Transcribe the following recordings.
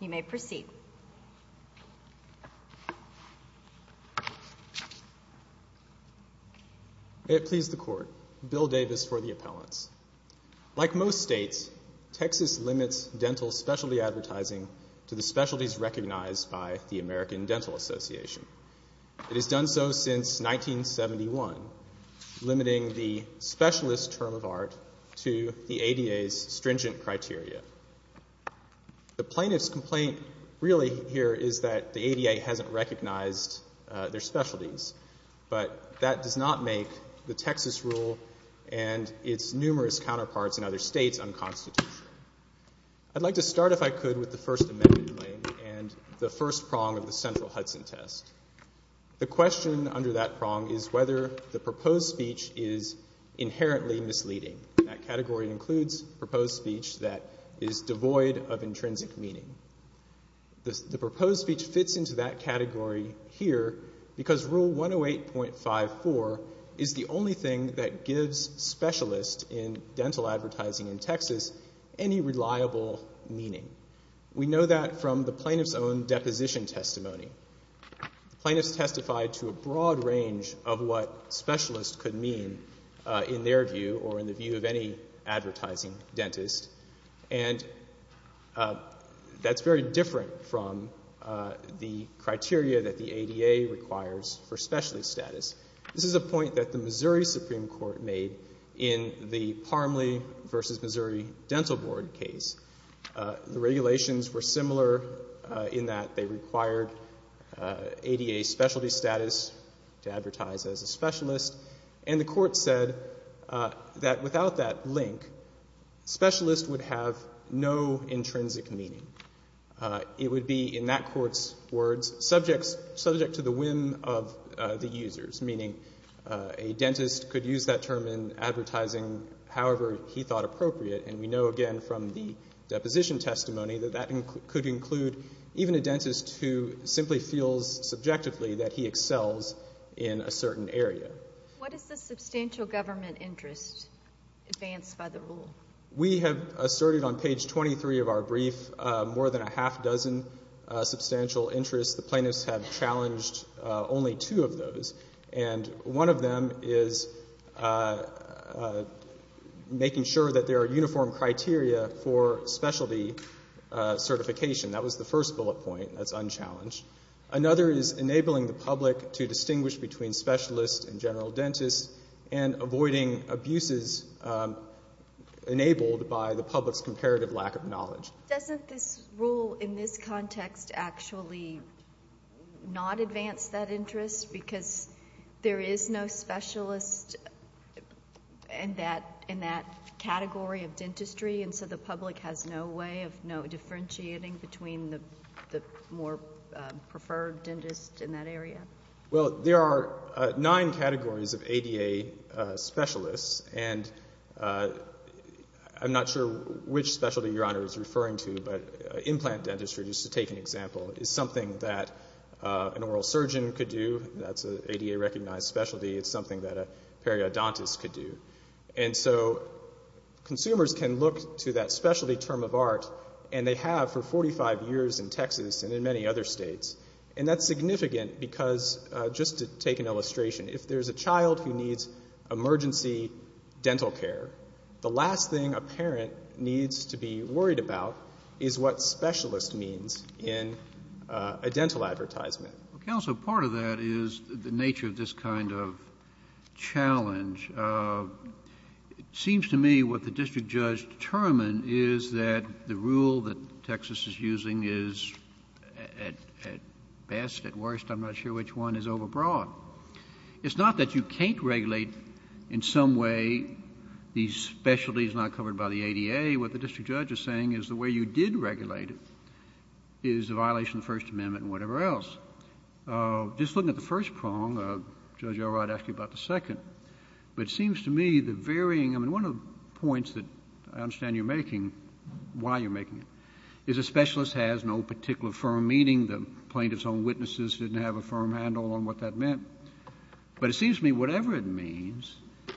You may proceed. May it please the Court, Bill Davis for the appellants. Like most states, Texas limits dental specialty advertising to the specialties recognized by the American Dental Association. It has done so since 1971, limiting the specialist term of art to the ADA's stringent criteria. The plaintiff's complaint really here is that the ADA hasn't recognized their specialties, but that does not make the Texas rule and its numerous counterparts in other states unconstitutional. I'd like to start, if I could, with the First Amendment claim and the first prong of the central Hudson test. The question under that prong is whether the proposed speech is inherently misleading. That category includes proposed speech that is devoid of intrinsic meaning. The proposed speech fits into that category here because Rule 108.54 is the only thing that gives specialist in dental advertising in Texas any reliable meaning. We know that from the plaintiff's own deposition testimony. The plaintiffs testified to a broad range of what specialist could mean in their view or in the view of any advertising dentist, and that's very different from the criteria that the ADA requires for specialty status. This is a point that the Missouri Supreme Court made in the Parmley v. Missouri Dental Board case. The regulations were similar in that they required ADA specialty status to advertise as a specialist, and the Court said that without that link, specialist would have no intrinsic meaning. It would be, in that Court's words, subject to the whim of the users, meaning a dentist could use that term in advertising however he thought appropriate. And we know again from the deposition testimony that that could include even a dentist who simply feels subjectively that he excels in a certain area. What is the substantial government interest advanced by the rule? We have asserted on page 23 of our brief more than a half dozen substantial interests. The plaintiffs have challenged only two of those, and one of them is making sure that there are uniform criteria for specialty certification. That was the first bullet point. That's unchallenged. Another is enabling the public to distinguish between specialists and general dentists and avoiding abuses enabled by the public's comparative lack of knowledge. Doesn't this rule in this context actually not advance that interest because there is no specialist in that category of dentistry, and so the public has no way of differentiating between the more preferred dentist in that area? Well, there are nine categories of ADA specialists, and I'm not sure which specialty Your Honor is referring to, but implant dentistry, just to take an example, is something that an oral surgeon could do. That's an ADA-recognized specialty. It's something that a periodontist could do. And so consumers can look to that specialty term of art, and they have for 45 years in Texas and in many other states, and that's significant because, just to take an illustration, if there's a child who needs emergency dental care, the last thing a parent needs to be worried about is what specialist means in a dental advertisement. Counsel, part of that is the nature of this kind of challenge. It seems to me what the district judge determined is that the rule that Texas is using is, at best, at worst, I'm not sure which one, is overbroad. It's not that you can't regulate in some way these specialties not covered by the rule, but the way you did regulate it is a violation of the First Amendment and whatever else. Just looking at the first prong, Judge Elrod asked you about the second, but it seems to me the varying, I mean, one of the points that I understand you're making, why you're making it, is a specialist has no particular firm meaning. The plaintiff's own witnesses didn't have a firm handle on what that meant. But it seems to me whatever it means,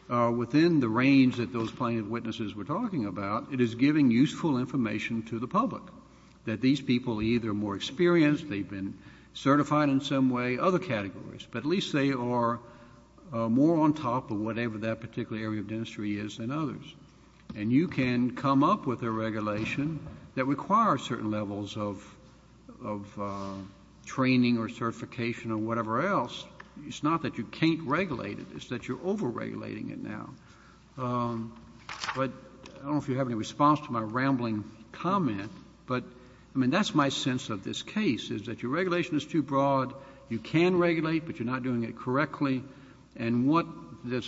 within the range that those plaintiff's witnesses were talking about, it is giving useful information to the public that these people are either more experienced, they've been certified in some way, other categories, but at least they are more on top of whatever that particular area of dentistry is than others, and you can come up with a regulation that requires certain levels of training or certification or whatever else. It's not that you can't regulate it. It's that you're overregulating it now. But I don't know if you have any response to my rambling comment, but that's my sense of this case, is that your regulation is too broad. You can regulate, but you're not doing it correctly. And what this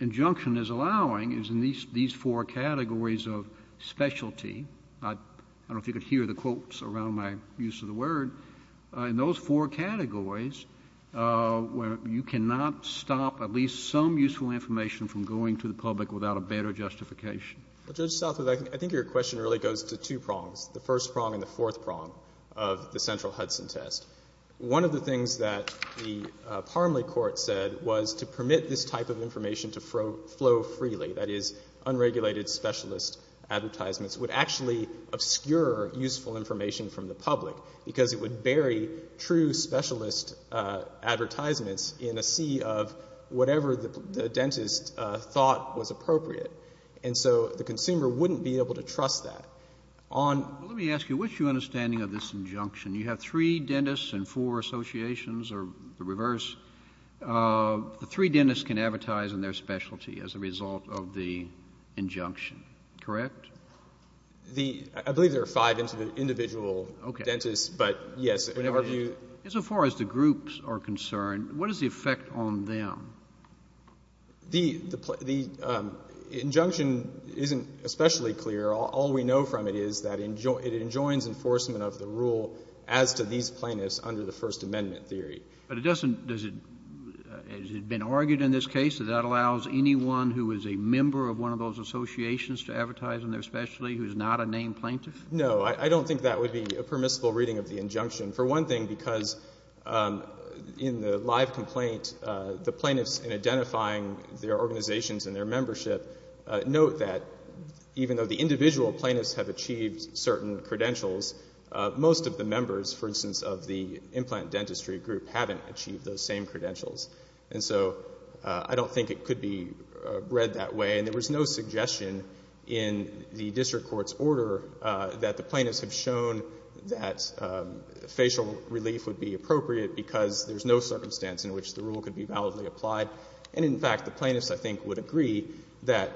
injunction is allowing is in these four categories of specialty, I don't know if you could hear the quotes around my use of the word, in those four categories, where you cannot stop at least some useful information from going to the public without a better justification. Well, Judge Southwood, I think your question really goes to two prongs, the first prong and the fourth prong of the central Hudson test. One of the things that the Parmley court said was to permit this type of information to flow freely, that is, unregulated specialist advertisements, would actually obscure useful information from the public because it would bury true specialist advertisements in a sea of whatever the dentist thought was appropriate. And so the consumer wouldn't be able to trust that. Let me ask you, what's your understanding of this injunction? You have three dentists and four associations, or the reverse. The three dentists can advertise in their specialty as a result of the injunction, correct? I believe there are five individual dentists, but yes. As far as the groups are concerned, what is the effect on them? The injunction isn't especially clear. All we know from it is that it enjoins enforcement of the rule as to these plaintiffs under the First Amendment theory. But it doesn't, has it been argued in this case that that allows anyone who is a member of one of those associations to advertise in their specialty who is not a named plaintiff? No, I don't think that would be a permissible reading of the injunction, for one thing because in the live complaint, the plaintiffs in identifying their organizations and their membership note that even though the individual plaintiffs have achieved certain credentials, most of the members, for instance, of the implant dentistry group haven't achieved those same credentials. And so I don't think it could be read that way. And there was no suggestion in the district court's order that the plaintiffs have shown that facial relief would be appropriate because there's no circumstance in which the rule could be validly applied. And, in fact, the plaintiffs, I think, would agree that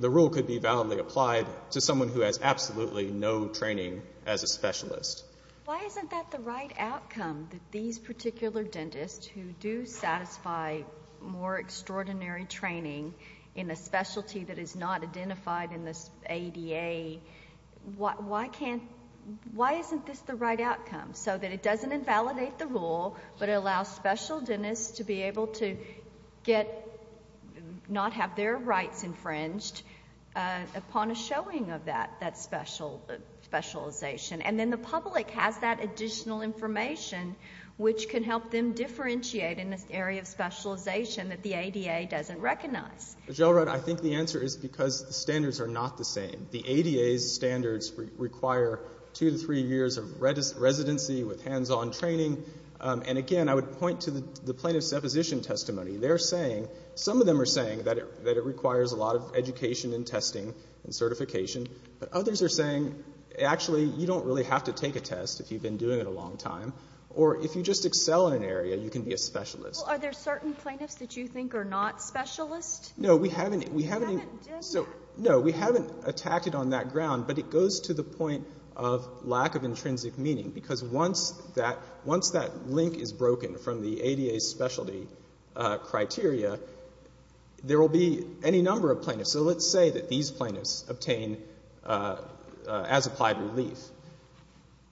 the rule could be validly applied to someone who has absolutely no training as a specialist. Why isn't that the right outcome, that these particular dentists who do satisfy more extraordinary training in a specialty that is not identified in the ADA, why isn't this the right outcome so that it doesn't invalidate the rule but it allows special dentists to be able to not have their rights infringed upon a showing of that specialization? And then the public has that additional information which can help them differentiate in this area of specialization that the ADA doesn't recognize. Gell-Rudd, I think the answer is because the standards are not the same. The ADA's standards require 2 to 3 years of residency with hands-on training. And, again, I would point to the plaintiff's deposition testimony. They're saying, some of them are saying, that it requires a lot of education and testing and certification. But others are saying, actually, you don't really have to take a test if you've been doing it a long time. Or if you just excel in an area, you can be a specialist. Are there certain plaintiffs that you think are not specialists? No, we haven't attacked it on that ground, but it goes to the point of lack of intrinsic meaning because once that link is broken from the ADA's specialty criteria, there will be any number of plaintiffs. So let's say that these plaintiffs obtain, as applied relief,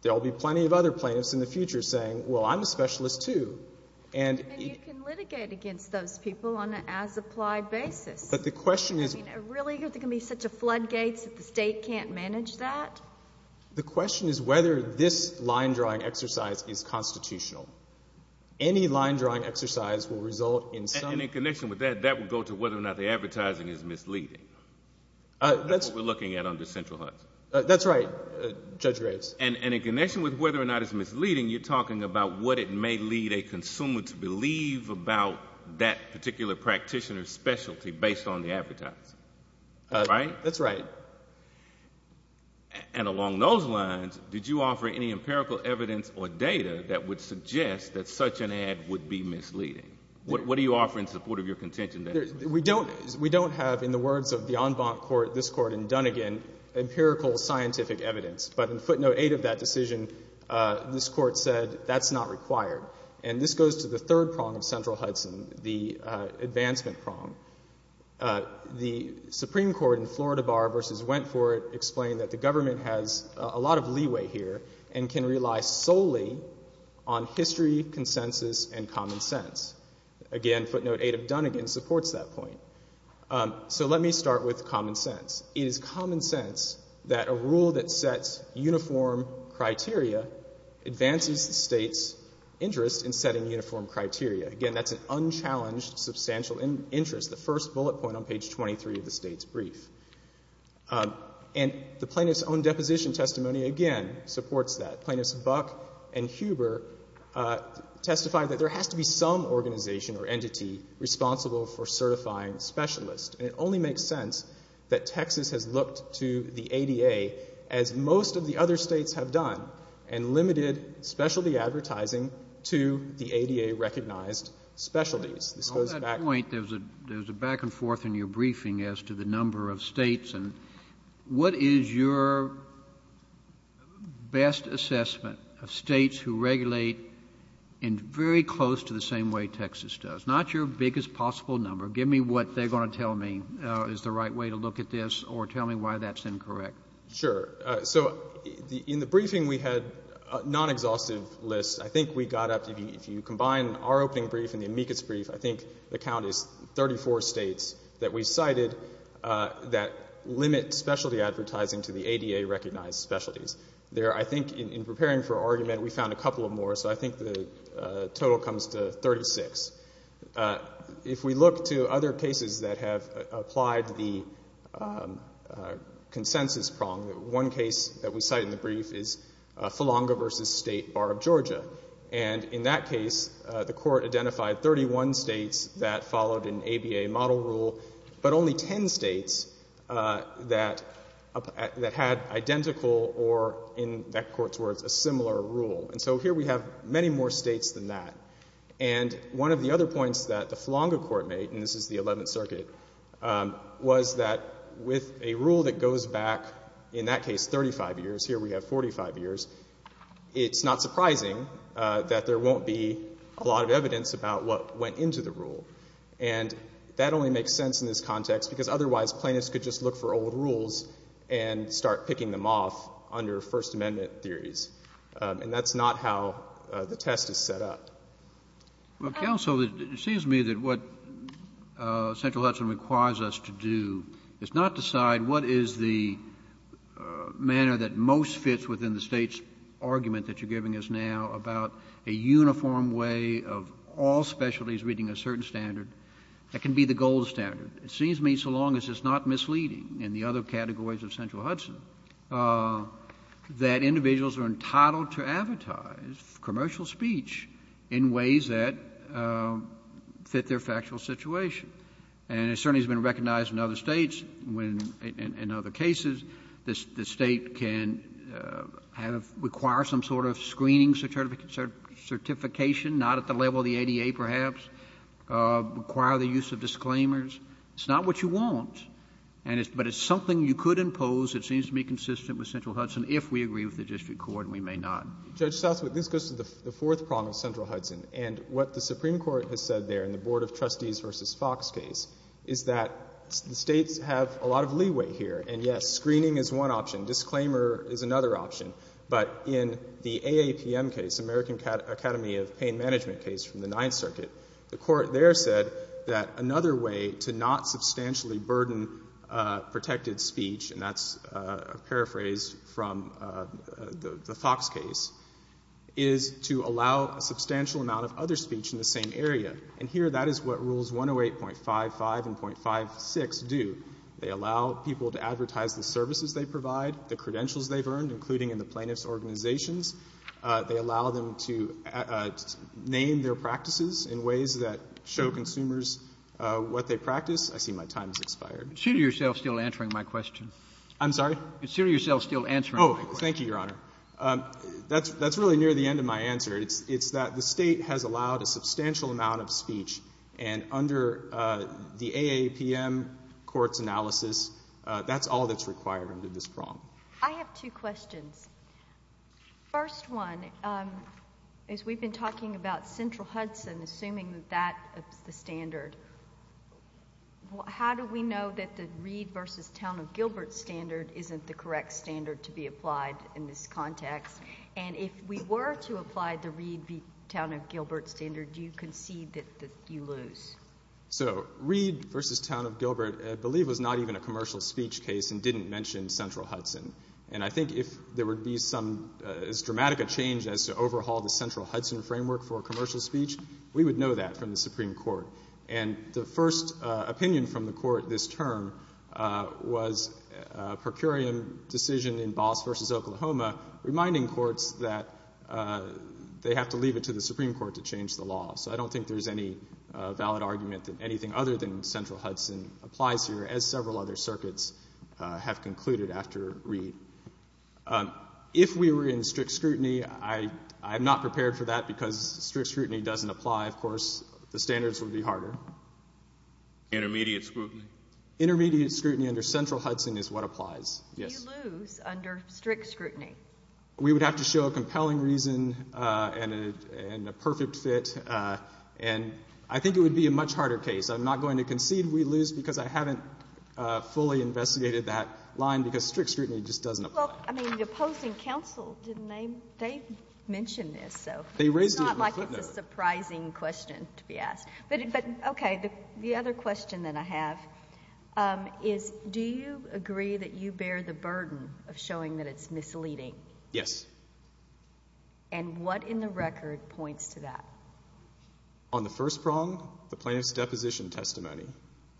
there will be plenty of other plaintiffs in the future saying, well, I'm a specialist too. And you can litigate against those people on an as-applied basis. But the question is... I mean, are there really going to be such floodgates that the state can't manage that? The question is whether this line-drawing exercise is constitutional. Any line-drawing exercise will result in some... And in connection with that, that would go to whether or not the advertising is misleading. That's what we're looking at under Central Hudson. That's right, Judge Graves. And in connection with whether or not it's misleading, you're talking about what it may lead a consumer to believe about that particular practitioner's specialty based on the advertising. Right? That's right. And along those lines, did you offer any empirical evidence or data that would suggest that such an ad would be misleading? What do you offer in support of your contention? We don't have, in the words of the en banc court, this Court in Dunnegan, empirical scientific evidence. But in footnote 8 of that decision, this Court said that's not required. And this goes to the third prong of Central Hudson, the advancement prong. The Supreme Court in Florida Bar v. Wentford explained that the government has a lot of leeway here and can rely solely on history, consensus, and common sense. Again, footnote 8 of Dunnegan supports that point. So let me start with common sense. It is common sense that a rule that sets uniform criteria advances the State's interest in setting uniform criteria. Again, that's an unchallenged substantial interest, the first bullet point on page 23 of the State's brief. And the plaintiff's own deposition testimony, again, supports that. Plaintiffs Buck and Huber testified that there has to be some organization or entity responsible for certifying specialists. And it only makes sense that Texas has looked to the ADA, as most of the other States have done, and limited specialty advertising to the ADA-recognized specialties. This goes back... On that point, there's a back-and-forth in your briefing as to the number of States. And what is your best assessment of States who regulate in very close to the same way Texas does? If it's not your biggest possible number, give me what they're going to tell me is the right way to look at this or tell me why that's incorrect. Sure. So in the briefing we had non-exhaustive lists. I think we got up to, if you combine our opening brief and the amicus brief, I think the count is 34 States that we cited that limit specialty advertising to the ADA-recognized specialties. There, I think, in preparing for argument, we found a couple of more. So I think the total comes to 36. If we look to other cases that have applied the consensus prong, one case that we cite in the brief is Philonga v. State Bar of Georgia. And in that case, the Court identified 31 States that followed an ABA model rule, but only 10 States that had identical or, in that Court's words, a similar rule. And so here we have many more States than that. And one of the other points that the Philonga Court made, and this is the Eleventh Circuit, was that with a rule that goes back, in that case, 35 years, here we have 45 years, it's not surprising that there won't be a lot of evidence about what went into the rule. And that only makes sense in this context because otherwise plaintiffs could just look for old rules and start picking them off under First Amendment theories. And that's not how the test is set up. Well, counsel, it seems to me that what Central Hudson requires us to do is not decide what is the manner that most fits within the State's argument that you're giving us now about a uniform way of all specialties meeting a certain standard. That can be the gold standard. It seems to me, so long as it's not misleading in the other categories of Central Hudson, that individuals are entitled to advertise commercial speech in ways that fit their factual situation. And it certainly has been recognized in other States when, in other cases, the State can require some sort of screening certification, not at the level of the ADA perhaps, require the use of disclaimers. It's not what you want, but it's something you could impose. It seems to be consistent with Central Hudson if we agree with the district court, and we may not. Judge Southwood, this goes to the fourth problem of Central Hudson. And what the Supreme Court has said there in the Board of Trustees v. Fox case is that the States have a lot of leeway here. And, yes, screening is one option. Disclaimer is another option. But in the AAPM case, American Academy of Pain Management case from the Ninth Circuit, the Court there said that another way to not substantially burden protected speech, and that's a paraphrase from the Fox case, is to allow a substantial amount of other speech in the same area. And here that is what Rules 108.55 and .56 do. They allow people to advertise the services they provide, the credentials they've earned, including in the plaintiff's organizations. They allow them to name their practices in ways that show consumers what they practice. I see my time has expired. Consider yourself still answering my question. I'm sorry? Consider yourself still answering my question. Oh, thank you, Your Honor. That's really near the end of my answer. It's that the State has allowed a substantial amount of speech, and under the AAPM court's analysis, that's all that's required under this prong. I have two questions. First one is we've been talking about Central Hudson, assuming that that is the standard. How do we know that the Reed v. Town of Gilbert standard isn't the correct standard to be applied in this context? And if we were to apply the Reed v. Town of Gilbert standard, do you concede that you lose? So Reed v. Town of Gilbert, I believe, was not even a commercial speech case and didn't mention Central Hudson. And I think if there would be as dramatic a change as to overhaul the Central Hudson framework for commercial speech, we would know that from the Supreme Court. And the first opinion from the Court this term was a per curiam decision in Boss v. Oklahoma reminding courts that they have to leave it to the Supreme Court to change the law. So I don't think there's any valid argument that anything other than Central Hudson applies here, as several other circuits have concluded after Reed. If we were in strict scrutiny, I'm not prepared for that because strict scrutiny doesn't apply. Of course, the standards would be harder. Intermediate scrutiny? Intermediate scrutiny under Central Hudson is what applies, yes. Do you lose under strict scrutiny? We would have to show a compelling reason and a perfect fit. And I think it would be a much harder case. I'm not going to concede we lose because I haven't fully investigated that line because strict scrutiny just doesn't apply. Well, I mean, the opposing counsel, didn't they mention this? It's not like it's a surprising question to be asked. But, okay, the other question that I have is, do you agree that you bear the burden of showing that it's misleading? Yes. And what in the record points to that? On the first prong, the plaintiff's deposition testimony.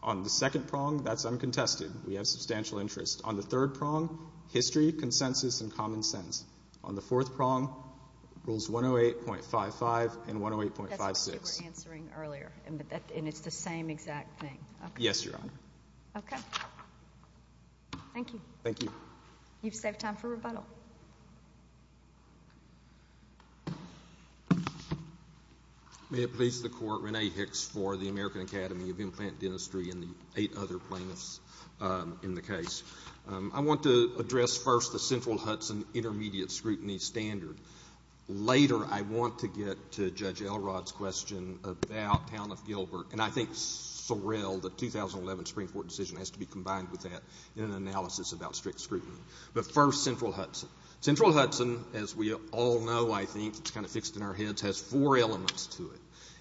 On the second prong, that's uncontested. We have substantial interest. On the third prong, history, consensus, and common sense. On the fourth prong, rules 108.55 and 108.56. That's what you were answering earlier, and it's the same exact thing. Yes, Your Honor. Okay. Thank you. Thank you. You've saved time for rebuttal. May it please the Court, Renee Hicks for the American Academy of Implant Dentistry and the eight other plaintiffs in the case. I want to address first the Central Hudson Intermediate Scrutiny Standard. Later, I want to get to Judge Elrod's question about Town of Gilbert, and I think Sorrell, the 2011 Supreme Court decision, has to be combined with that in an analysis about strict scrutiny. But first, Central Hudson. Central Hudson, as we all know, I think, it's kind of fixed in our heads, has four elements to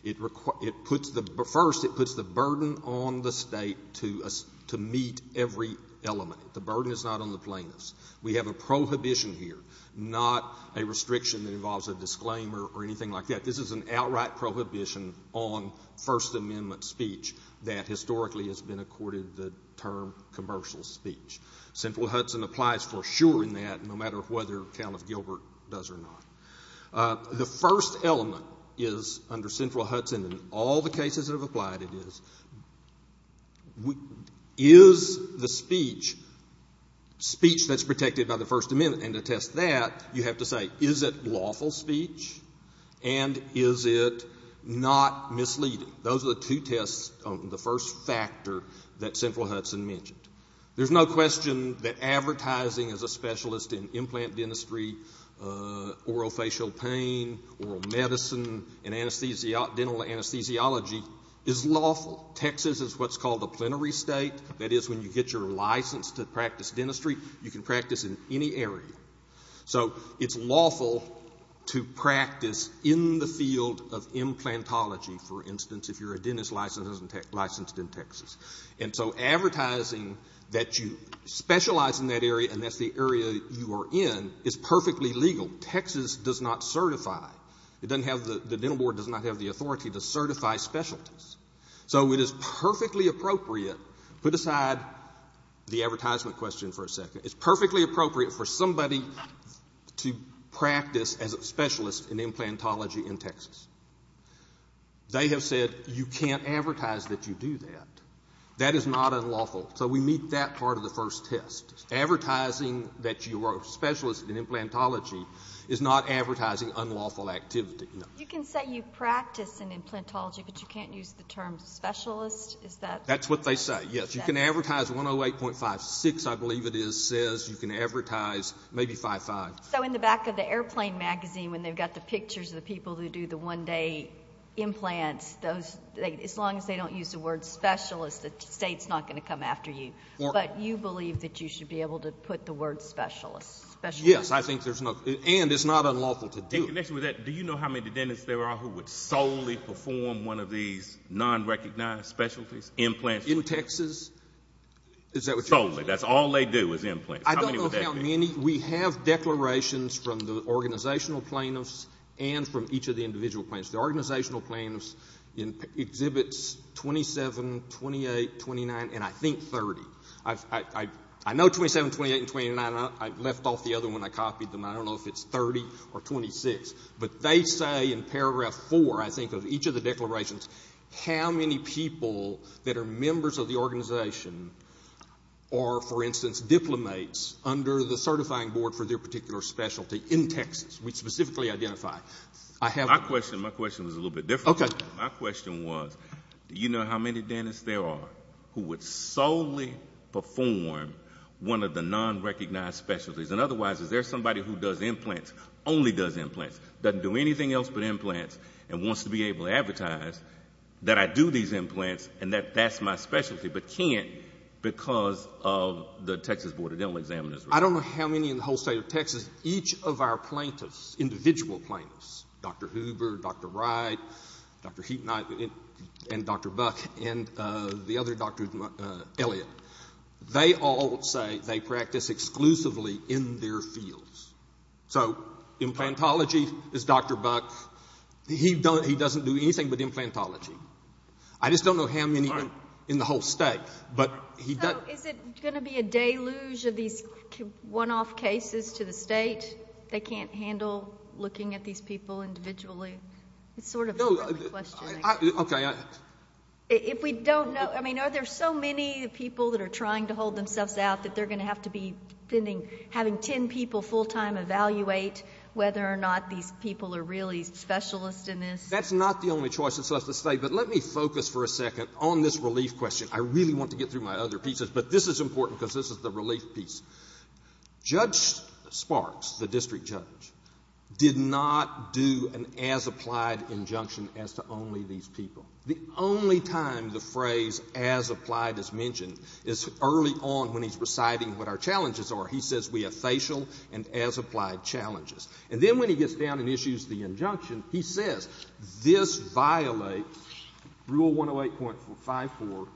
it. First, it puts the burden on the state to meet every element. The burden is not on the plaintiffs. We have a prohibition here, not a restriction that involves a disclaimer or anything like that. This is an outright prohibition on First Amendment speech that historically has been accorded the term commercial speech. Central Hudson applies for sure in that, no matter whether Town of Gilbert does or not. The first element is, under Central Hudson, in all the cases that have applied, is the speech, speech that's protected by the First Amendment, and to test that, you have to say, is it lawful speech, and is it not misleading? Those are the two tests, the first factor, that Central Hudson mentioned. There's no question that advertising as a specialist in implant dentistry, orophacial pain, oral medicine, and dental anesthesiology is lawful. Texas is what's called a plenary state. That is, when you get your license to practice dentistry, you can practice in any area. So it's lawful to practice in the field of implantology, for instance, if you're a dentist licensed in Texas. And so advertising that you specialize in that area, and that's the area you are in, is perfectly legal. Texas does not certify. The dental board does not have the authority to certify specialties. So it is perfectly appropriate, put aside the advertisement question for a second, it's perfectly appropriate for somebody to practice as a specialist in implantology in Texas. They have said, you can't advertise that you do that. That is not unlawful. So we meet that part of the first test. Advertising that you are a specialist in implantology is not advertising unlawful activity. You can say you practice in implantology, but you can't use the term specialist? That's what they say, yes. You can advertise 108.56, I believe it is, says you can advertise maybe 55. So in the back of the airplane magazine, when they've got the pictures of the people who do the one-day implants, as long as they don't use the word specialist, the state's not going to come after you. But you believe that you should be able to put the word specialist. Yes, I think there's no... And it's not unlawful to do it. Do you know how many dentists there are who would solely perform one of these non-recognized specialties, implants? In Texas? Solely. That's all they do is implants. I don't know how many. We have declarations from the organizational plaintiffs and from each of the individual plaintiffs. The organizational plaintiffs exhibits 27, 28, 29, and I think 30. I know 27, 28, and 29. I left off the other one. I copied them. I don't know if it's 30 or 26. But they say in paragraph 4, I think, of each of the declarations, how many people that are members of the organization are, for instance, diplomats under the certifying board for their particular specialty in Texas, we specifically identify. My question was a little bit different. Okay. My question was, do you know how many dentists there are who would solely perform one of the non-recognized specialties? And otherwise, is there somebody who does implants, only does implants, doesn't do anything else but implants, and wants to be able to advertise that I do these implants and that that's my specialty but can't because of the Texas Board of Dental Examiners? I don't know how many in the whole state of Texas. Each of our plaintiffs, individual plaintiffs, Dr. Huber, Dr. Wright, Dr. Heaton, and Dr. Buck, and the other Dr. Elliott, they all say they practice exclusively in their fields. So implantology is Dr. Buck. He doesn't do anything but implantology. I just don't know how many in the whole state. So is it going to be a deluge of these one-off cases to the state? They can't handle looking at these people individually? It's sort of my question. Okay. If we don't know, I mean, are there so many people that are trying to hold themselves out that they're going to have to be having ten people full-time evaluate whether or not these people are really specialists in this? That's not the only choice it's left to say, but let me focus for a second on this relief question. I really want to get through my other pieces, but this is important because this is the relief piece. Judge Sparks, the district judge, did not do an as-applied injunction as to only these people. The only time the phrase as-applied is mentioned is early on when he's reciting what our challenges are. He says we have facial and as-applied challenges. And then when he gets down and issues the injunction, he says this violates Rule 108.54,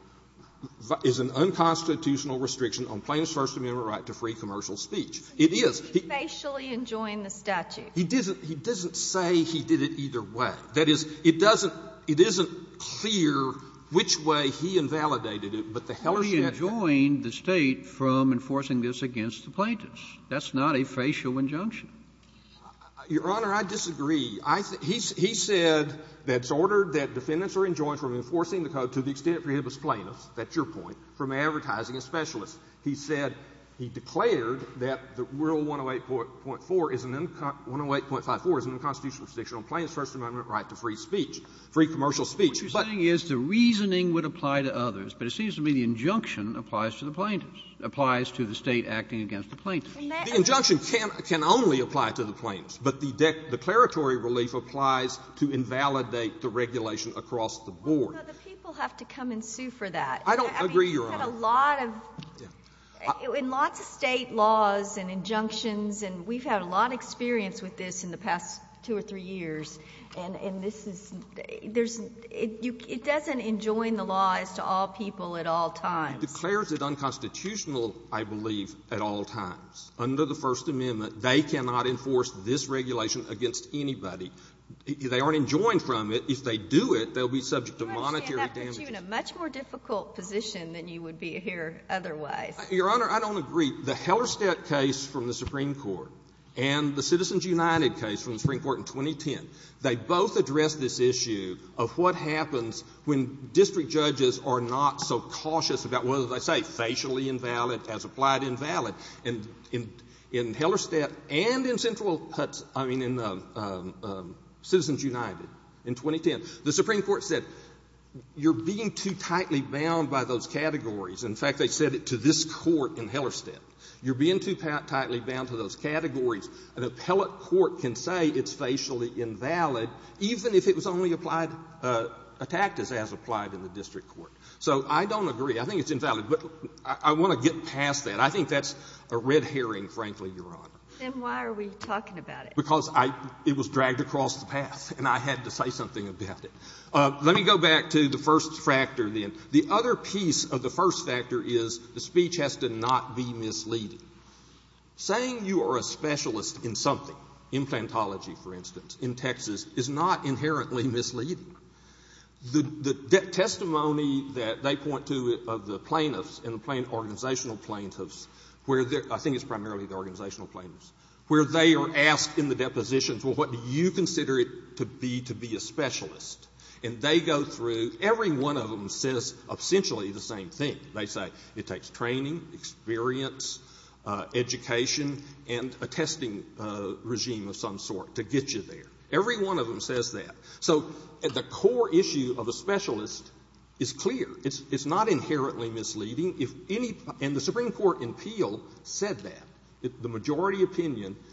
is an unconstitutional restriction on plaintiff's First Amendment right to free commercial speech. It is. He facially enjoined the statute. He doesn't say he did it either way. That is, it doesn't — it isn't clear which way he invalidated it, but the hellers should have been. He enjoined the State from enforcing this against the plaintiffs. That's not a facial injunction. Your Honor, I disagree. He said that it's ordered that defendants are enjoined from enforcing the code to the extent it prohibits plaintiffs, that's your point, from advertising as specialists. He said, he declared that the Rule 108.4 is an unconstitutional restriction on plaintiff's First Amendment right to free speech, free commercial speech. What you're saying is the reasoning would apply to others, but it seems to me the injunction applies to the plaintiffs, applies to the State acting against the plaintiffs. The injunction can only apply to the plaintiffs, but the declaratory relief applies to invalidate the regulation across the board. Well, you know, the people have to come and sue for that. I don't agree, Your Honor. We've had a lot of, in lots of State laws and injunctions, and we've had a lot of experience with this in the past two or three years, and this is, there's, it doesn't enjoin the law as to all people at all times. It declares it unconstitutional, I believe, at all times. Under the First Amendment, they cannot enforce this regulation against anybody. They aren't enjoined from it. If they do it, they'll be subject to monetary damages. This puts you in a much more difficult position than you would be here otherwise. Your Honor, I don't agree. The Hellerstedt case from the Supreme Court and the Citizens United case from the Supreme Court in 2010, they both addressed this issue of what happens when district judges are not so cautious about whether they say facially invalid as applied invalid. And in Hellerstedt and in Central, I mean in Citizens United in 2010, the Supreme Court said you're being too tightly bound by those categories. In fact, they said it to this Court in Hellerstedt. You're being too tightly bound to those categories. An appellate court can say it's facially invalid even if it was only applied, attacked as applied in the district court. So I don't agree. I think it's invalid. But I want to get past that. I think that's a red herring, frankly, Your Honor. Then why are we talking about it? Because it was dragged across the path and I had to say something about it. Let me go back to the first factor then. The other piece of the first factor is the speech has to not be misleading. Saying you are a specialist in something, implantology, for instance, in Texas, is not inherently misleading. The testimony that they point to of the plaintiffs and the organizational plaintiffs where they're – I think it's primarily the organizational plaintiffs where they are asked in the depositions, well, what do you consider it to be to be a specialist? And they go through – every one of them says essentially the same thing. They say it takes training, experience, education, and a testing regime of some sort to get you there. Every one of them says that. So the core issue of a specialist is clear. It's not inherently misleading. If any – and the Supreme Court in Peel said that. The majority opinion –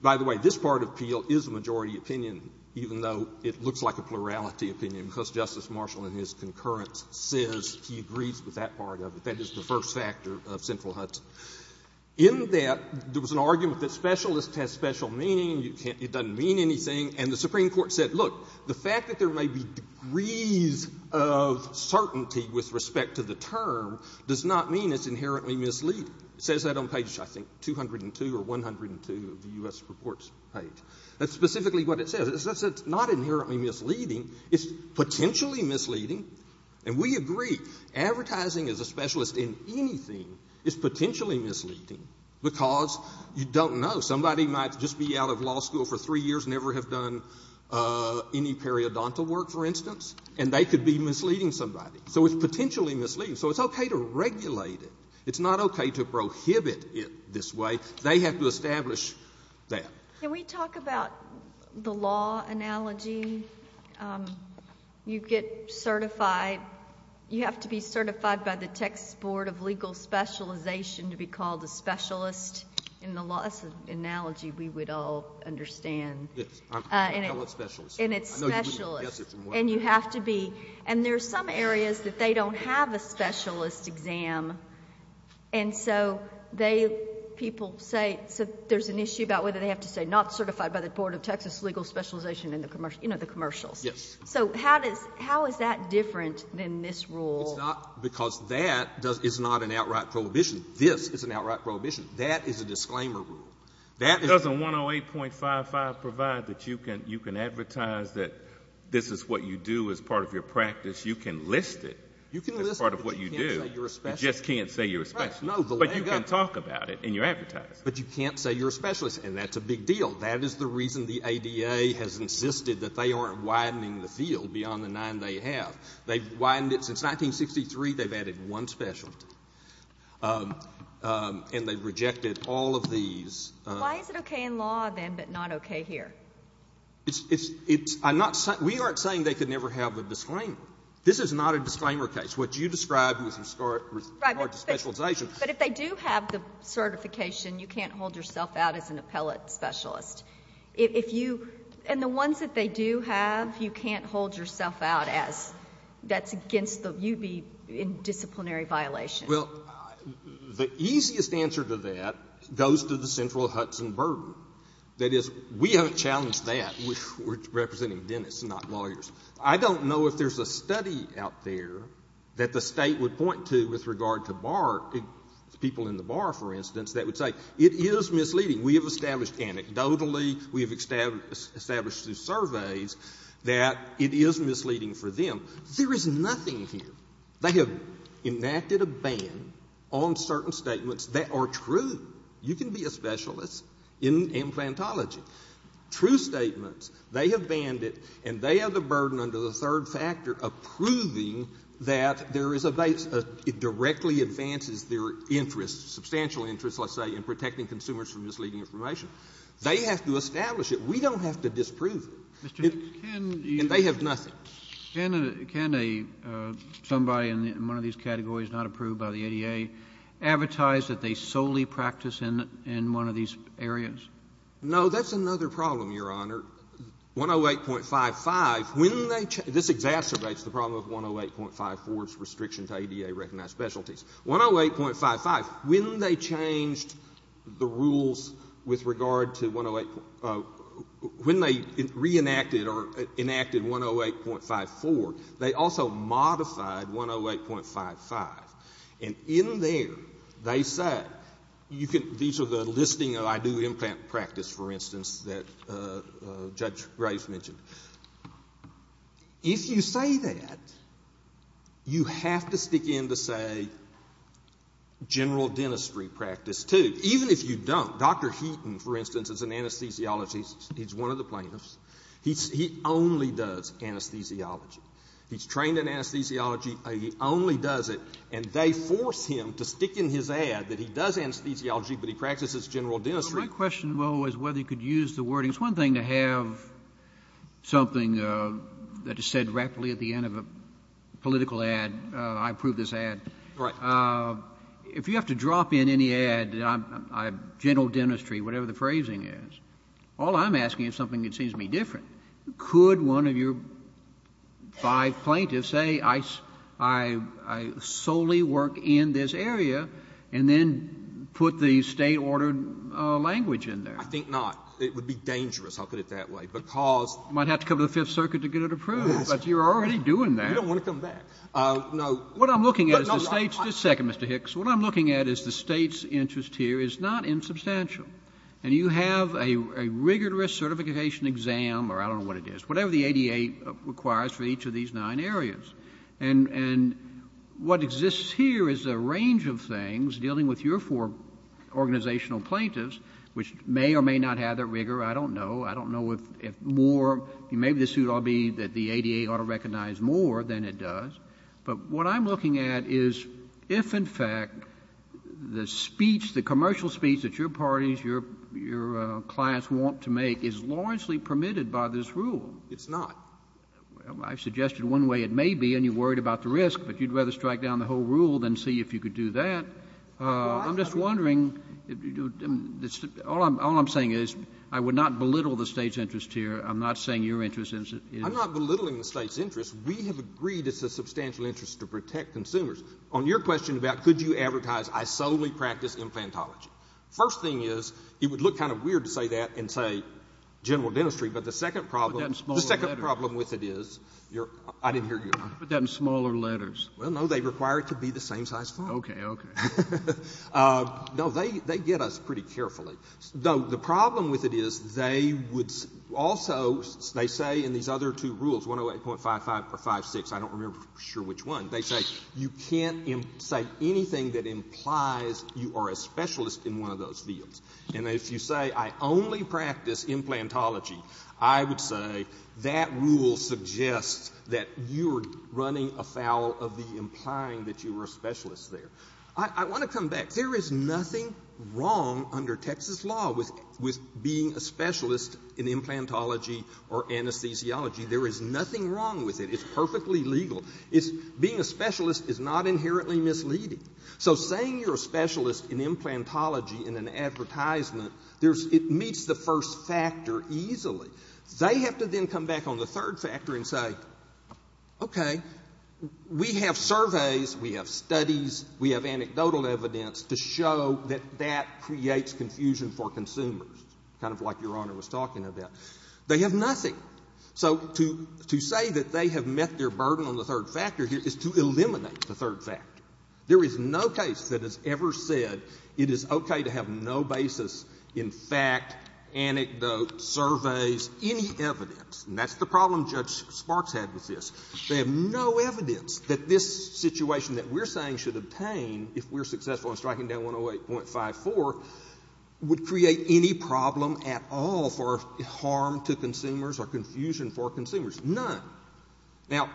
by the way, this part of Peel is a majority opinion, even though it looks like a plurality opinion because Justice Marshall in his concurrence says he agrees with that part of it. That is the first factor of sinful Hudson. In that, there was an argument that specialist has special meaning. You can't – it doesn't mean anything. And the Supreme Court said, look, the fact that there may be degrees of certainty with respect to the term does not mean it's inherently misleading. It says that on page, I think, 202 or 102 of the U.S. Reports page. That's specifically what it says. It says it's not inherently misleading. It's potentially misleading. And we agree. Advertising as a specialist in anything is potentially misleading because you don't know. Somebody might just be out of law school for three years, never have done any periodontal work, for instance, and they could be misleading somebody. So it's potentially misleading. So it's okay to regulate it. It's not okay to prohibit it this way. They have to establish that. Can we talk about the law analogy? You get certified. You have to be certified by the Texas Board of Legal Specialization to be called a specialist in the law. That's an analogy we would all understand. Yes. I'm a specialist. And it's specialist. I know you wouldn't guess it from what I'm hearing. And you have to be. And there are some areas that they don't have a specialist exam. And so they, people say, so there's an issue about whether they have to say not certified by the Board of Texas Legal Specialization in the commercial, you know, the commercials. Yes. So how does, how is that different than this rule? It's not because that is not an outright prohibition. This is an outright prohibition. That is a disclaimer rule. That is. Does the 108.55 provide that you can advertise that this is what you do as part of your practice? You can list it as part of what you do. You can list it, but you can't say you're a specialist. You just can't say you're a specialist. Right. No. But you can talk about it in your advertising. But you can't say you're a specialist. And that's a big deal. That is the reason the ADA has insisted that they aren't widening the field beyond the nine they have. They've widened it since 1963. They've added one specialty. And they've rejected all of these. Why is it okay in law, then, but not okay here? It's, it's, it's, I'm not saying, we aren't saying they could never have a disclaimer. This is not a disclaimer case. What you described was historic, historic specialization. But if they do have the certification, you can't hold yourself out as an appellate specialist. If you, and the ones that they do have, you can't hold yourself out as, that's against the, you'd be in disciplinary violation. Well, the easiest answer to that goes to the Central Hudson Burden. That is, we haven't challenged that. We're representing dentists, not lawyers. I don't know if there's a study out there that the State would point to with regard to bar, people in the bar, for instance, that would say, it is misleading. We have established anecdotally. We have established through surveys that it is misleading for them. There is nothing here. They have enacted a ban on certain statements that are true. You can be a specialist in implantology. True statements. They have banned it, and they have the burden under the third factor of proving that there is a base, it directly advances their interest, substantial interest, let's say, in protecting consumers from misleading information. They have to establish it. We don't have to disprove it. And they have nothing. Can a somebody in one of these categories not approved by the ADA advertise that they solely practice in one of these areas? No. That's another problem, Your Honor. 108.55, when they change — this exacerbates the problem of 108.54's restriction to ADA-recognized specialties. 108.55, when they changed the rules with regard to 108 — when they reenacted 108.54, they also modified 108.55. And in there, they said — these are the listing of, I do implant practice, for instance, that Judge Graves mentioned. If you say that, you have to stick in to, say, general dentistry practice, too, even if you don't. Dr. Heaton, for instance, is an anesthesiologist. He's one of the plaintiffs. He only does anesthesiology. He's trained in anesthesiology. He only does it. And they force him to stick in his ad that he does anesthesiology, but he practices general dentistry. My question, though, is whether you could use the wording. It's one thing to have something that is said rapidly at the end of a political ad. I approve this ad. Right. If you have to drop in any ad, general dentistry, whatever the phrasing is, all I'm asking is something that seems to be different. Could one of your five plaintiffs say, I solely work in this area, and then put the State-ordered language in there? I think not. It would be dangerous. I'll put it that way, because — You might have to come to the Fifth Circuit to get it approved. Yes. But you're already doing that. You don't want to come back. No. What I'm looking at is the State's — just a second, Mr. Hicks. What I'm looking at is the State's interest here is not insubstantial. And you have a rigorous certification exam, or I don't know what it is, whatever the ADA requires for each of these nine areas. And what exists here is a range of things dealing with your four organizational plaintiffs, which may or may not have that rigor. I don't know. I don't know if more — maybe this would all be that the ADA ought to recognize more than it does. But what I'm looking at is if, in fact, the speech, the commercial speech that your parties, your clients want to make, is largely permitted by this rule. It's not. I've suggested one way it may be, and you're worried about the risk. But you'd rather strike down the whole rule than see if you could do that. I'm just wondering — all I'm saying is I would not belittle the State's interest here. I'm not saying your interest is — I'm not belittling the State's interest. We have agreed it's a substantial interest to protect consumers. On your question about could you advertise, I solely practice infantology. First thing is, it would look kind of weird to say that and say general dentistry. But the second problem — Put that in smaller letters. The second problem with it is — I didn't hear you. Put that in smaller letters. Well, no. They require it to be the same size font. Okay. Okay. No. They get us pretty carefully. The problem with it is they would also — they say in these other two rules, 108.55 or 56 — I don't remember for sure which one — they say you can't say anything that implies you are a specialist in one of those fields. And if you say I only practice implantology, I would say that rule suggests that you are running afoul of the implying that you were a specialist there. I want to come back. There is nothing wrong under Texas law with being a specialist in implantology or anesthesiology. There is nothing wrong with it. It's perfectly legal. It's — being a specialist is not inherently misleading. So saying you're a specialist in implantology in an advertisement, there's — it meets the first factor easily. They have to then come back on the third factor and say, okay, we have surveys, we have studies, we have anecdotal evidence to show that that creates confusion for consumers, kind of like Your Honor was talking about. They have nothing. So to say that they have met their burden on the third factor here is to eliminate the third factor. There is no case that has ever said it is okay to have no basis in fact, anecdote, surveys, any evidence. And that's the problem Judge Sparks had with this. They have no evidence that this situation that we're saying should obtain, if we're successful in striking down 108.54, would create any problem at all for harm to consumers or confusion for consumers. None. Now,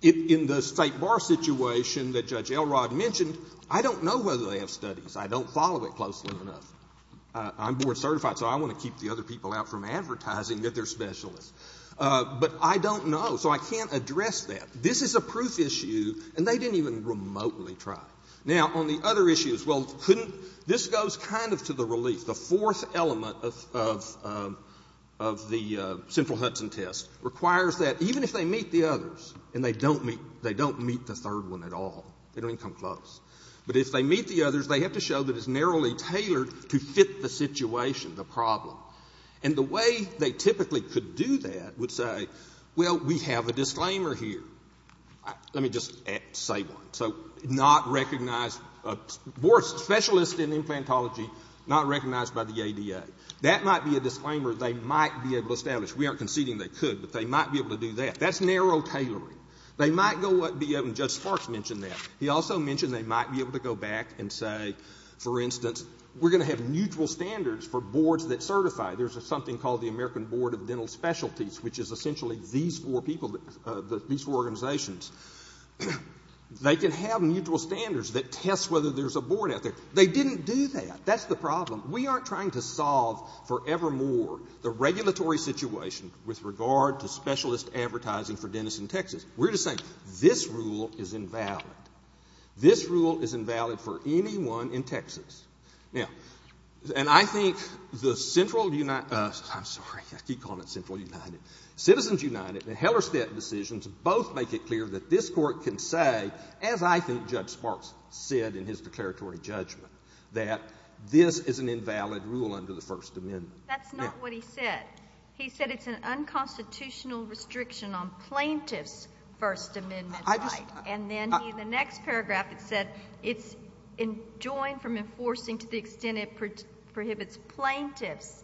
in the State Bar situation that Judge Elrod mentioned, I don't know whether they have studies. I don't follow it closely enough. I'm board certified, so I want to keep the other people out from advertising that they're specialists. But I don't know. So I can't address that. This is a proof issue, and they didn't even remotely try. Now, on the other issues, well, couldn't — this goes kind of to the relief. The fourth element of the central Hudson test requires that even if they meet the others and they don't meet the third one at all, they don't even come close, but if they meet the others, they have to show that it's narrowly tailored to fit the situation, the problem. And the way they typically could do that would say, well, we have a disclaimer here. Let me just say one. So not recognized — board specialists in implantology, not recognized by the ADA. That might be a disclaimer they might be able to establish. We aren't conceding they could, but they might be able to do that. That's narrow tailoring. They might go up and be able — and Judge Sparks mentioned that. He also mentioned they might be able to go back and say, for instance, we're going to have mutual standards for boards that certify. There's something called the American Board of Dental Specialties, which is essentially these four people, these four organizations. They can have mutual standards that test whether there's a board out there. They didn't do that. That's the problem. We aren't trying to solve forevermore the regulatory situation with regard to specialist advertising for dentists in Texas. We're just saying this rule is invalid. This rule is invalid for anyone in Texas. Now, and I think the Central — I'm sorry, I keep calling it Central United. Citizens United and Hellerstedt decisions both make it clear that this Court can say, as I think Judge Sparks said in his declaratory judgment, that this is an invalid rule under the First Amendment. That's not what he said. He said it's an unconstitutional restriction on plaintiffs' First Amendment right. And then in the next paragraph it said it's enjoined from enforcing to the extent it prohibits plaintiffs.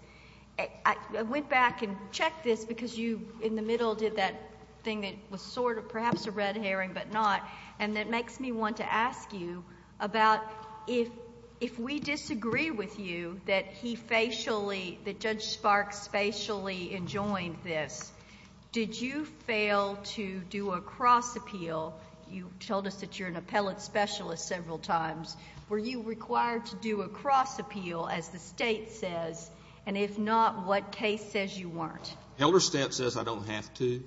I went back and checked this because you, in the middle, did that thing that was sort of perhaps a red herring but not, and that makes me want to ask you about if we disagree with you that he facially — that Judge Sparks facially enjoined this, did you fail to do a cross-appeal? You told us that you're an appellate specialist several times. Were you required to do a cross-appeal, as the State says? And if not, what case says you weren't? Hellerstedt says I don't have to.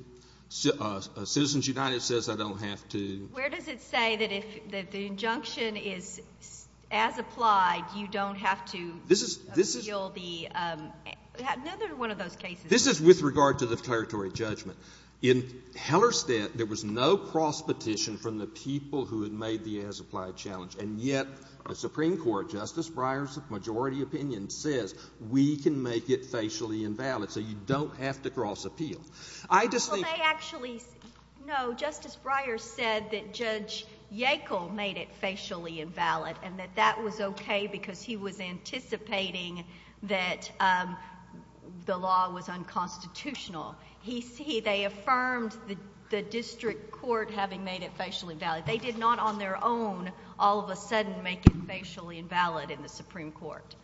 Citizens United says I don't have to. Where does it say that if the injunction is as applied, you don't have to appeal the — another one of those cases. This is with regard to the declaratory judgment. In Hellerstedt, there was no cross-petition from the people who had made the as-applied challenge. And yet the Supreme Court, Justice Breyer's majority opinion says we can make it facially invalid, so you don't have to cross-appeal. I just think — Well, they actually — no, Justice Breyer said that Judge Yackel made it facially invalid and that that was okay because he was anticipating that the law was unconstitutional. He — they affirmed the district court having made it facially invalid. They did not on their own all of a sudden make it facially invalid in the Supreme Court.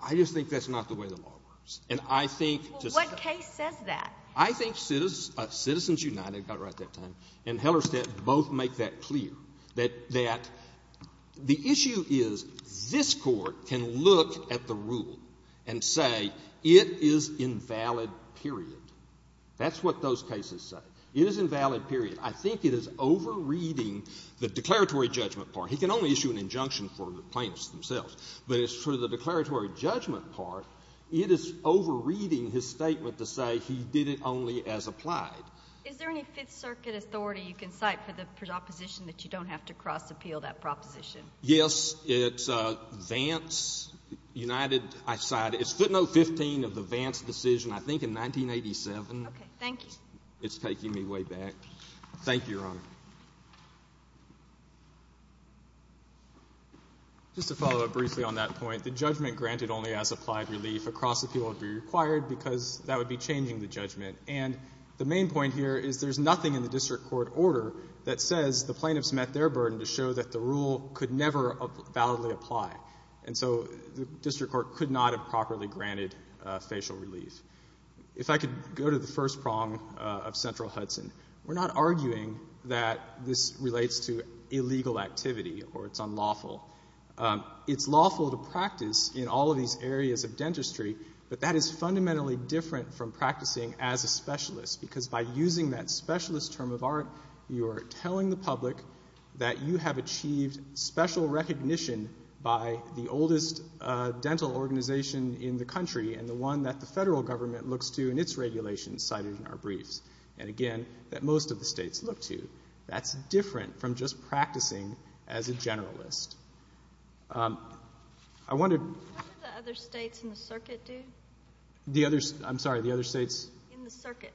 I just think that's not the way the law works. And I think — Well, what case says that? I think Citizens United got it right that time, and Hellerstedt both make that clear, that the issue is this Court can look at the rule and say it is invalid, period. That's what those cases say. It is invalid, period. I think it is over-reading the declaratory judgment part. He can only issue an injunction for the plaintiffs themselves. But as for the declaratory judgment part, it is over-reading his statement to say he did it only as applied. Is there any Fifth Circuit authority you can cite for the proposition that you don't have to cross-appeal that proposition? Yes. It's Vance, United. I cited — it's footnote 15 of the Vance decision, I think, in 1987. Okay. Thank you. It's taking me way back. Thank you, Your Honor. Just to follow up briefly on that point, the judgment granted only as applied relief, a cross-appeal would be required because that would be changing the judgment. And the main point here is there's nothing in the district court order that says the plaintiffs met their burden to show that the rule could never validly apply. And so the district court could not have properly granted facial relief. If I could go to the first prong of Central Hudson, we're not arguing that this relates to illegal activity or it's unlawful. It's lawful to practice in all of these areas of dentistry, but that is fundamentally different from practicing as a specialist because by using that specialist term of art, you are telling the public that you have achieved special recognition by the oldest dental organization in the country and the one that the federal government looks to in its regulations cited in our briefs and, again, that most of the states look to. That's different from just practicing as a generalist. I wonder... What do the other states in the circuit do? I'm sorry, the other states? In the circuit.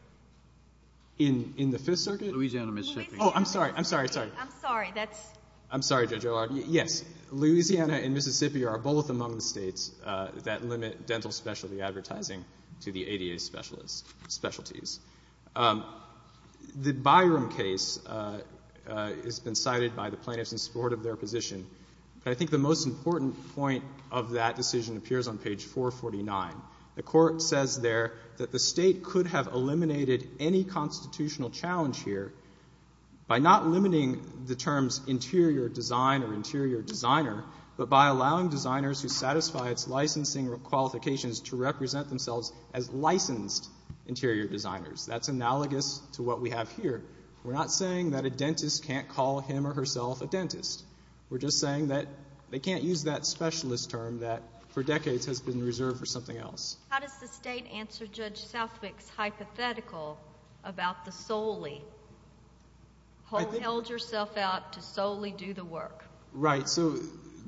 In the Fifth Circuit? Louisiana and Mississippi. Oh, I'm sorry. I'm sorry. I'm sorry. I'm sorry. That's... I'm sorry, Judge O'Rourke. Yes. Louisiana and Mississippi are both among the states that limit dental specialty advertising to the ADA specialties. The Byram case has been cited by the plaintiffs in support of their position, but I think the most important point of that decision appears on page 449. The court says there that the state could have eliminated any constitutional challenge here by not limiting the terms interior design or interior designer, but by allowing designers who satisfy its licensing qualifications to represent themselves as licensed interior designers. That's analogous to what we have here. We're not saying that a dentist can't call him or herself a dentist. We're just saying that they can't use that specialist term that for decades has been reserved for something else. How does the state answer Judge Southwick's hypothetical about the solely? Hold yourself out to solely do the work. Right. So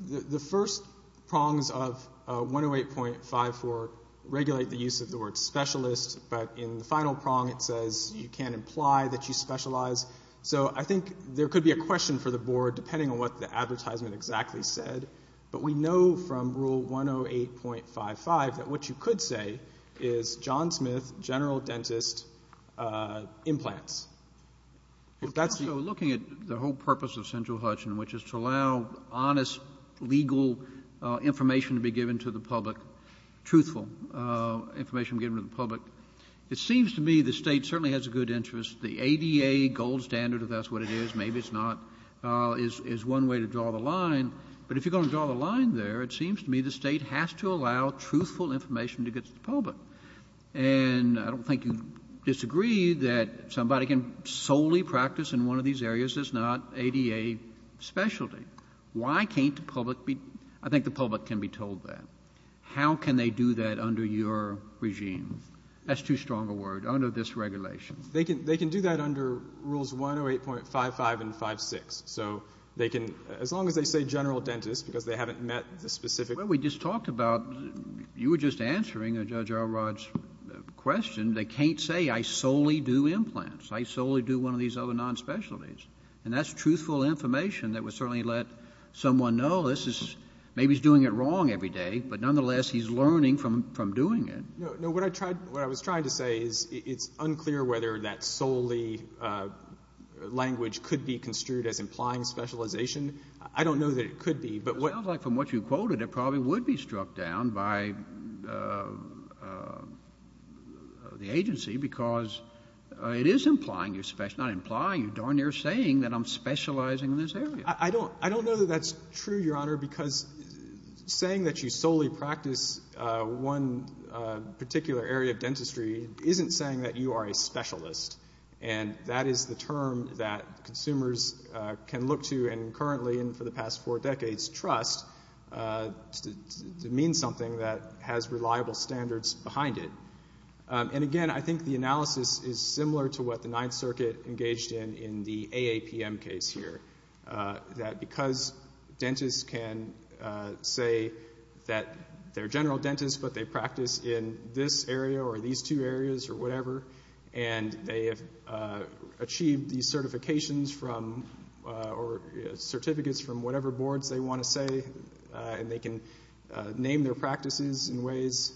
the first prongs of 108.54 regulate the use of the word specialist, but in the final prong it says you can't imply that you specialize. So I think there could be a question for the Board, depending on what the advertisement exactly said, but we know from Rule 108.55 that what you could say is John Smith, general dentist, implants. So looking at the whole purpose of Central Hutchin, which is to allow honest legal information to be given to the public, truthful information given to the public, it seems to me the state certainly has a good interest. The ADA gold standard, if that's what it is, maybe it's not, is one way to draw the line, but if you're going to draw the line there, it seems to me the state has to allow truthful information to get to the public. And I don't think you'd disagree that somebody can solely practice in one of these areas that's not ADA specialty. Why can't the public be? I think the public can be told that. How can they do that under your regime? That's too strong a word, under this regulation. They can do that under Rules 108.55 and 56. So they can, as long as they say general dentist, because they haven't met the specific... Well, we just talked about, you were just answering Judge Alrod's question, they can't say I solely do implants, I solely do one of these other non-specialties. And that's truthful information that would certainly let someone know this is, maybe he's doing it wrong every day, but nonetheless he's learning from doing it. No, what I was trying to say is it's unclear whether that solely language could be construed as implying specialization. I don't know that it could be, but what... It sounds like from what you quoted it probably would be struck down by the agency because it is implying, not implying, you're saying that I'm specializing in this area. I don't know that that's true, Your Honor, because saying that you solely practice one particular area of dentistry isn't saying that you are a specialist. And that is the term that consumers can look to and currently and for the past four decades trust to mean something that has reliable standards behind it. And again, I think the analysis is similar to what the Ninth Circuit engaged in in the AAPM case here, that because dentists can say that they're general dentists but they practice in this area or these two areas or whatever and they have achieved these certifications from or certificates from whatever boards they want to say and they can name their practices in ways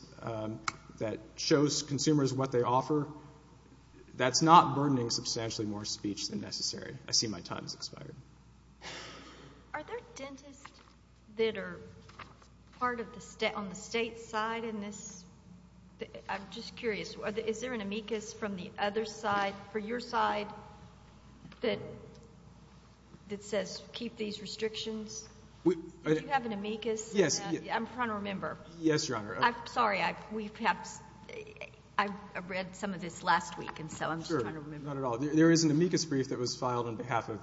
that shows consumers what they offer, that's not burdening substantially more speech than necessary. I see my time has expired. Are there dentists that are part of the state, on the state side in this? I'm just curious. Is there an amicus from the other side, for your side, that says keep these restrictions? Do you have an amicus? Yes. I'm trying to remember. Yes, Your Honor. I'm sorry. I read some of this last week and so I'm just trying to remember. Sure. Not at all. There is an amicus brief that was filed on behalf of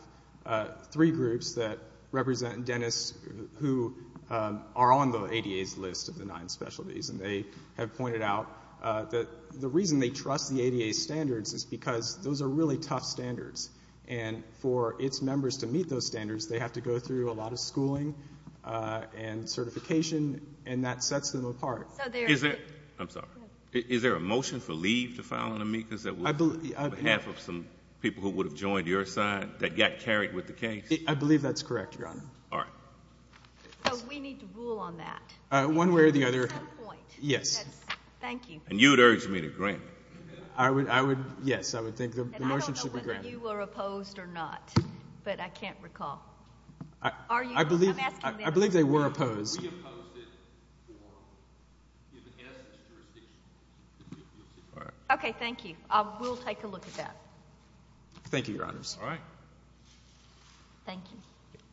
three groups that represent dentists who are on the ADA's list of the nine specialties and they have pointed out that the reason they trust the ADA's standards is because those are really tough standards and for its members to meet those standards, they have to go through a lot of schooling and certification and that sets them apart. I'm sorry. Is there a motion for leave to file an amicus that was on behalf of some people who would have joined your side that got carried with the case? I believe that's correct, Your Honor. All right. So we need to rule on that. One way or the other. At some point. Yes. Thank you. And you would urge me to grant it. Yes, I would think the motion should be granted. And I don't know whether you were opposed or not, but I can't recall. I believe they were opposed. We opposed it for if it has jurisdiction. Okay. Thank you. We'll take a look at that. Thank you, Your Honors. All right. Thank you.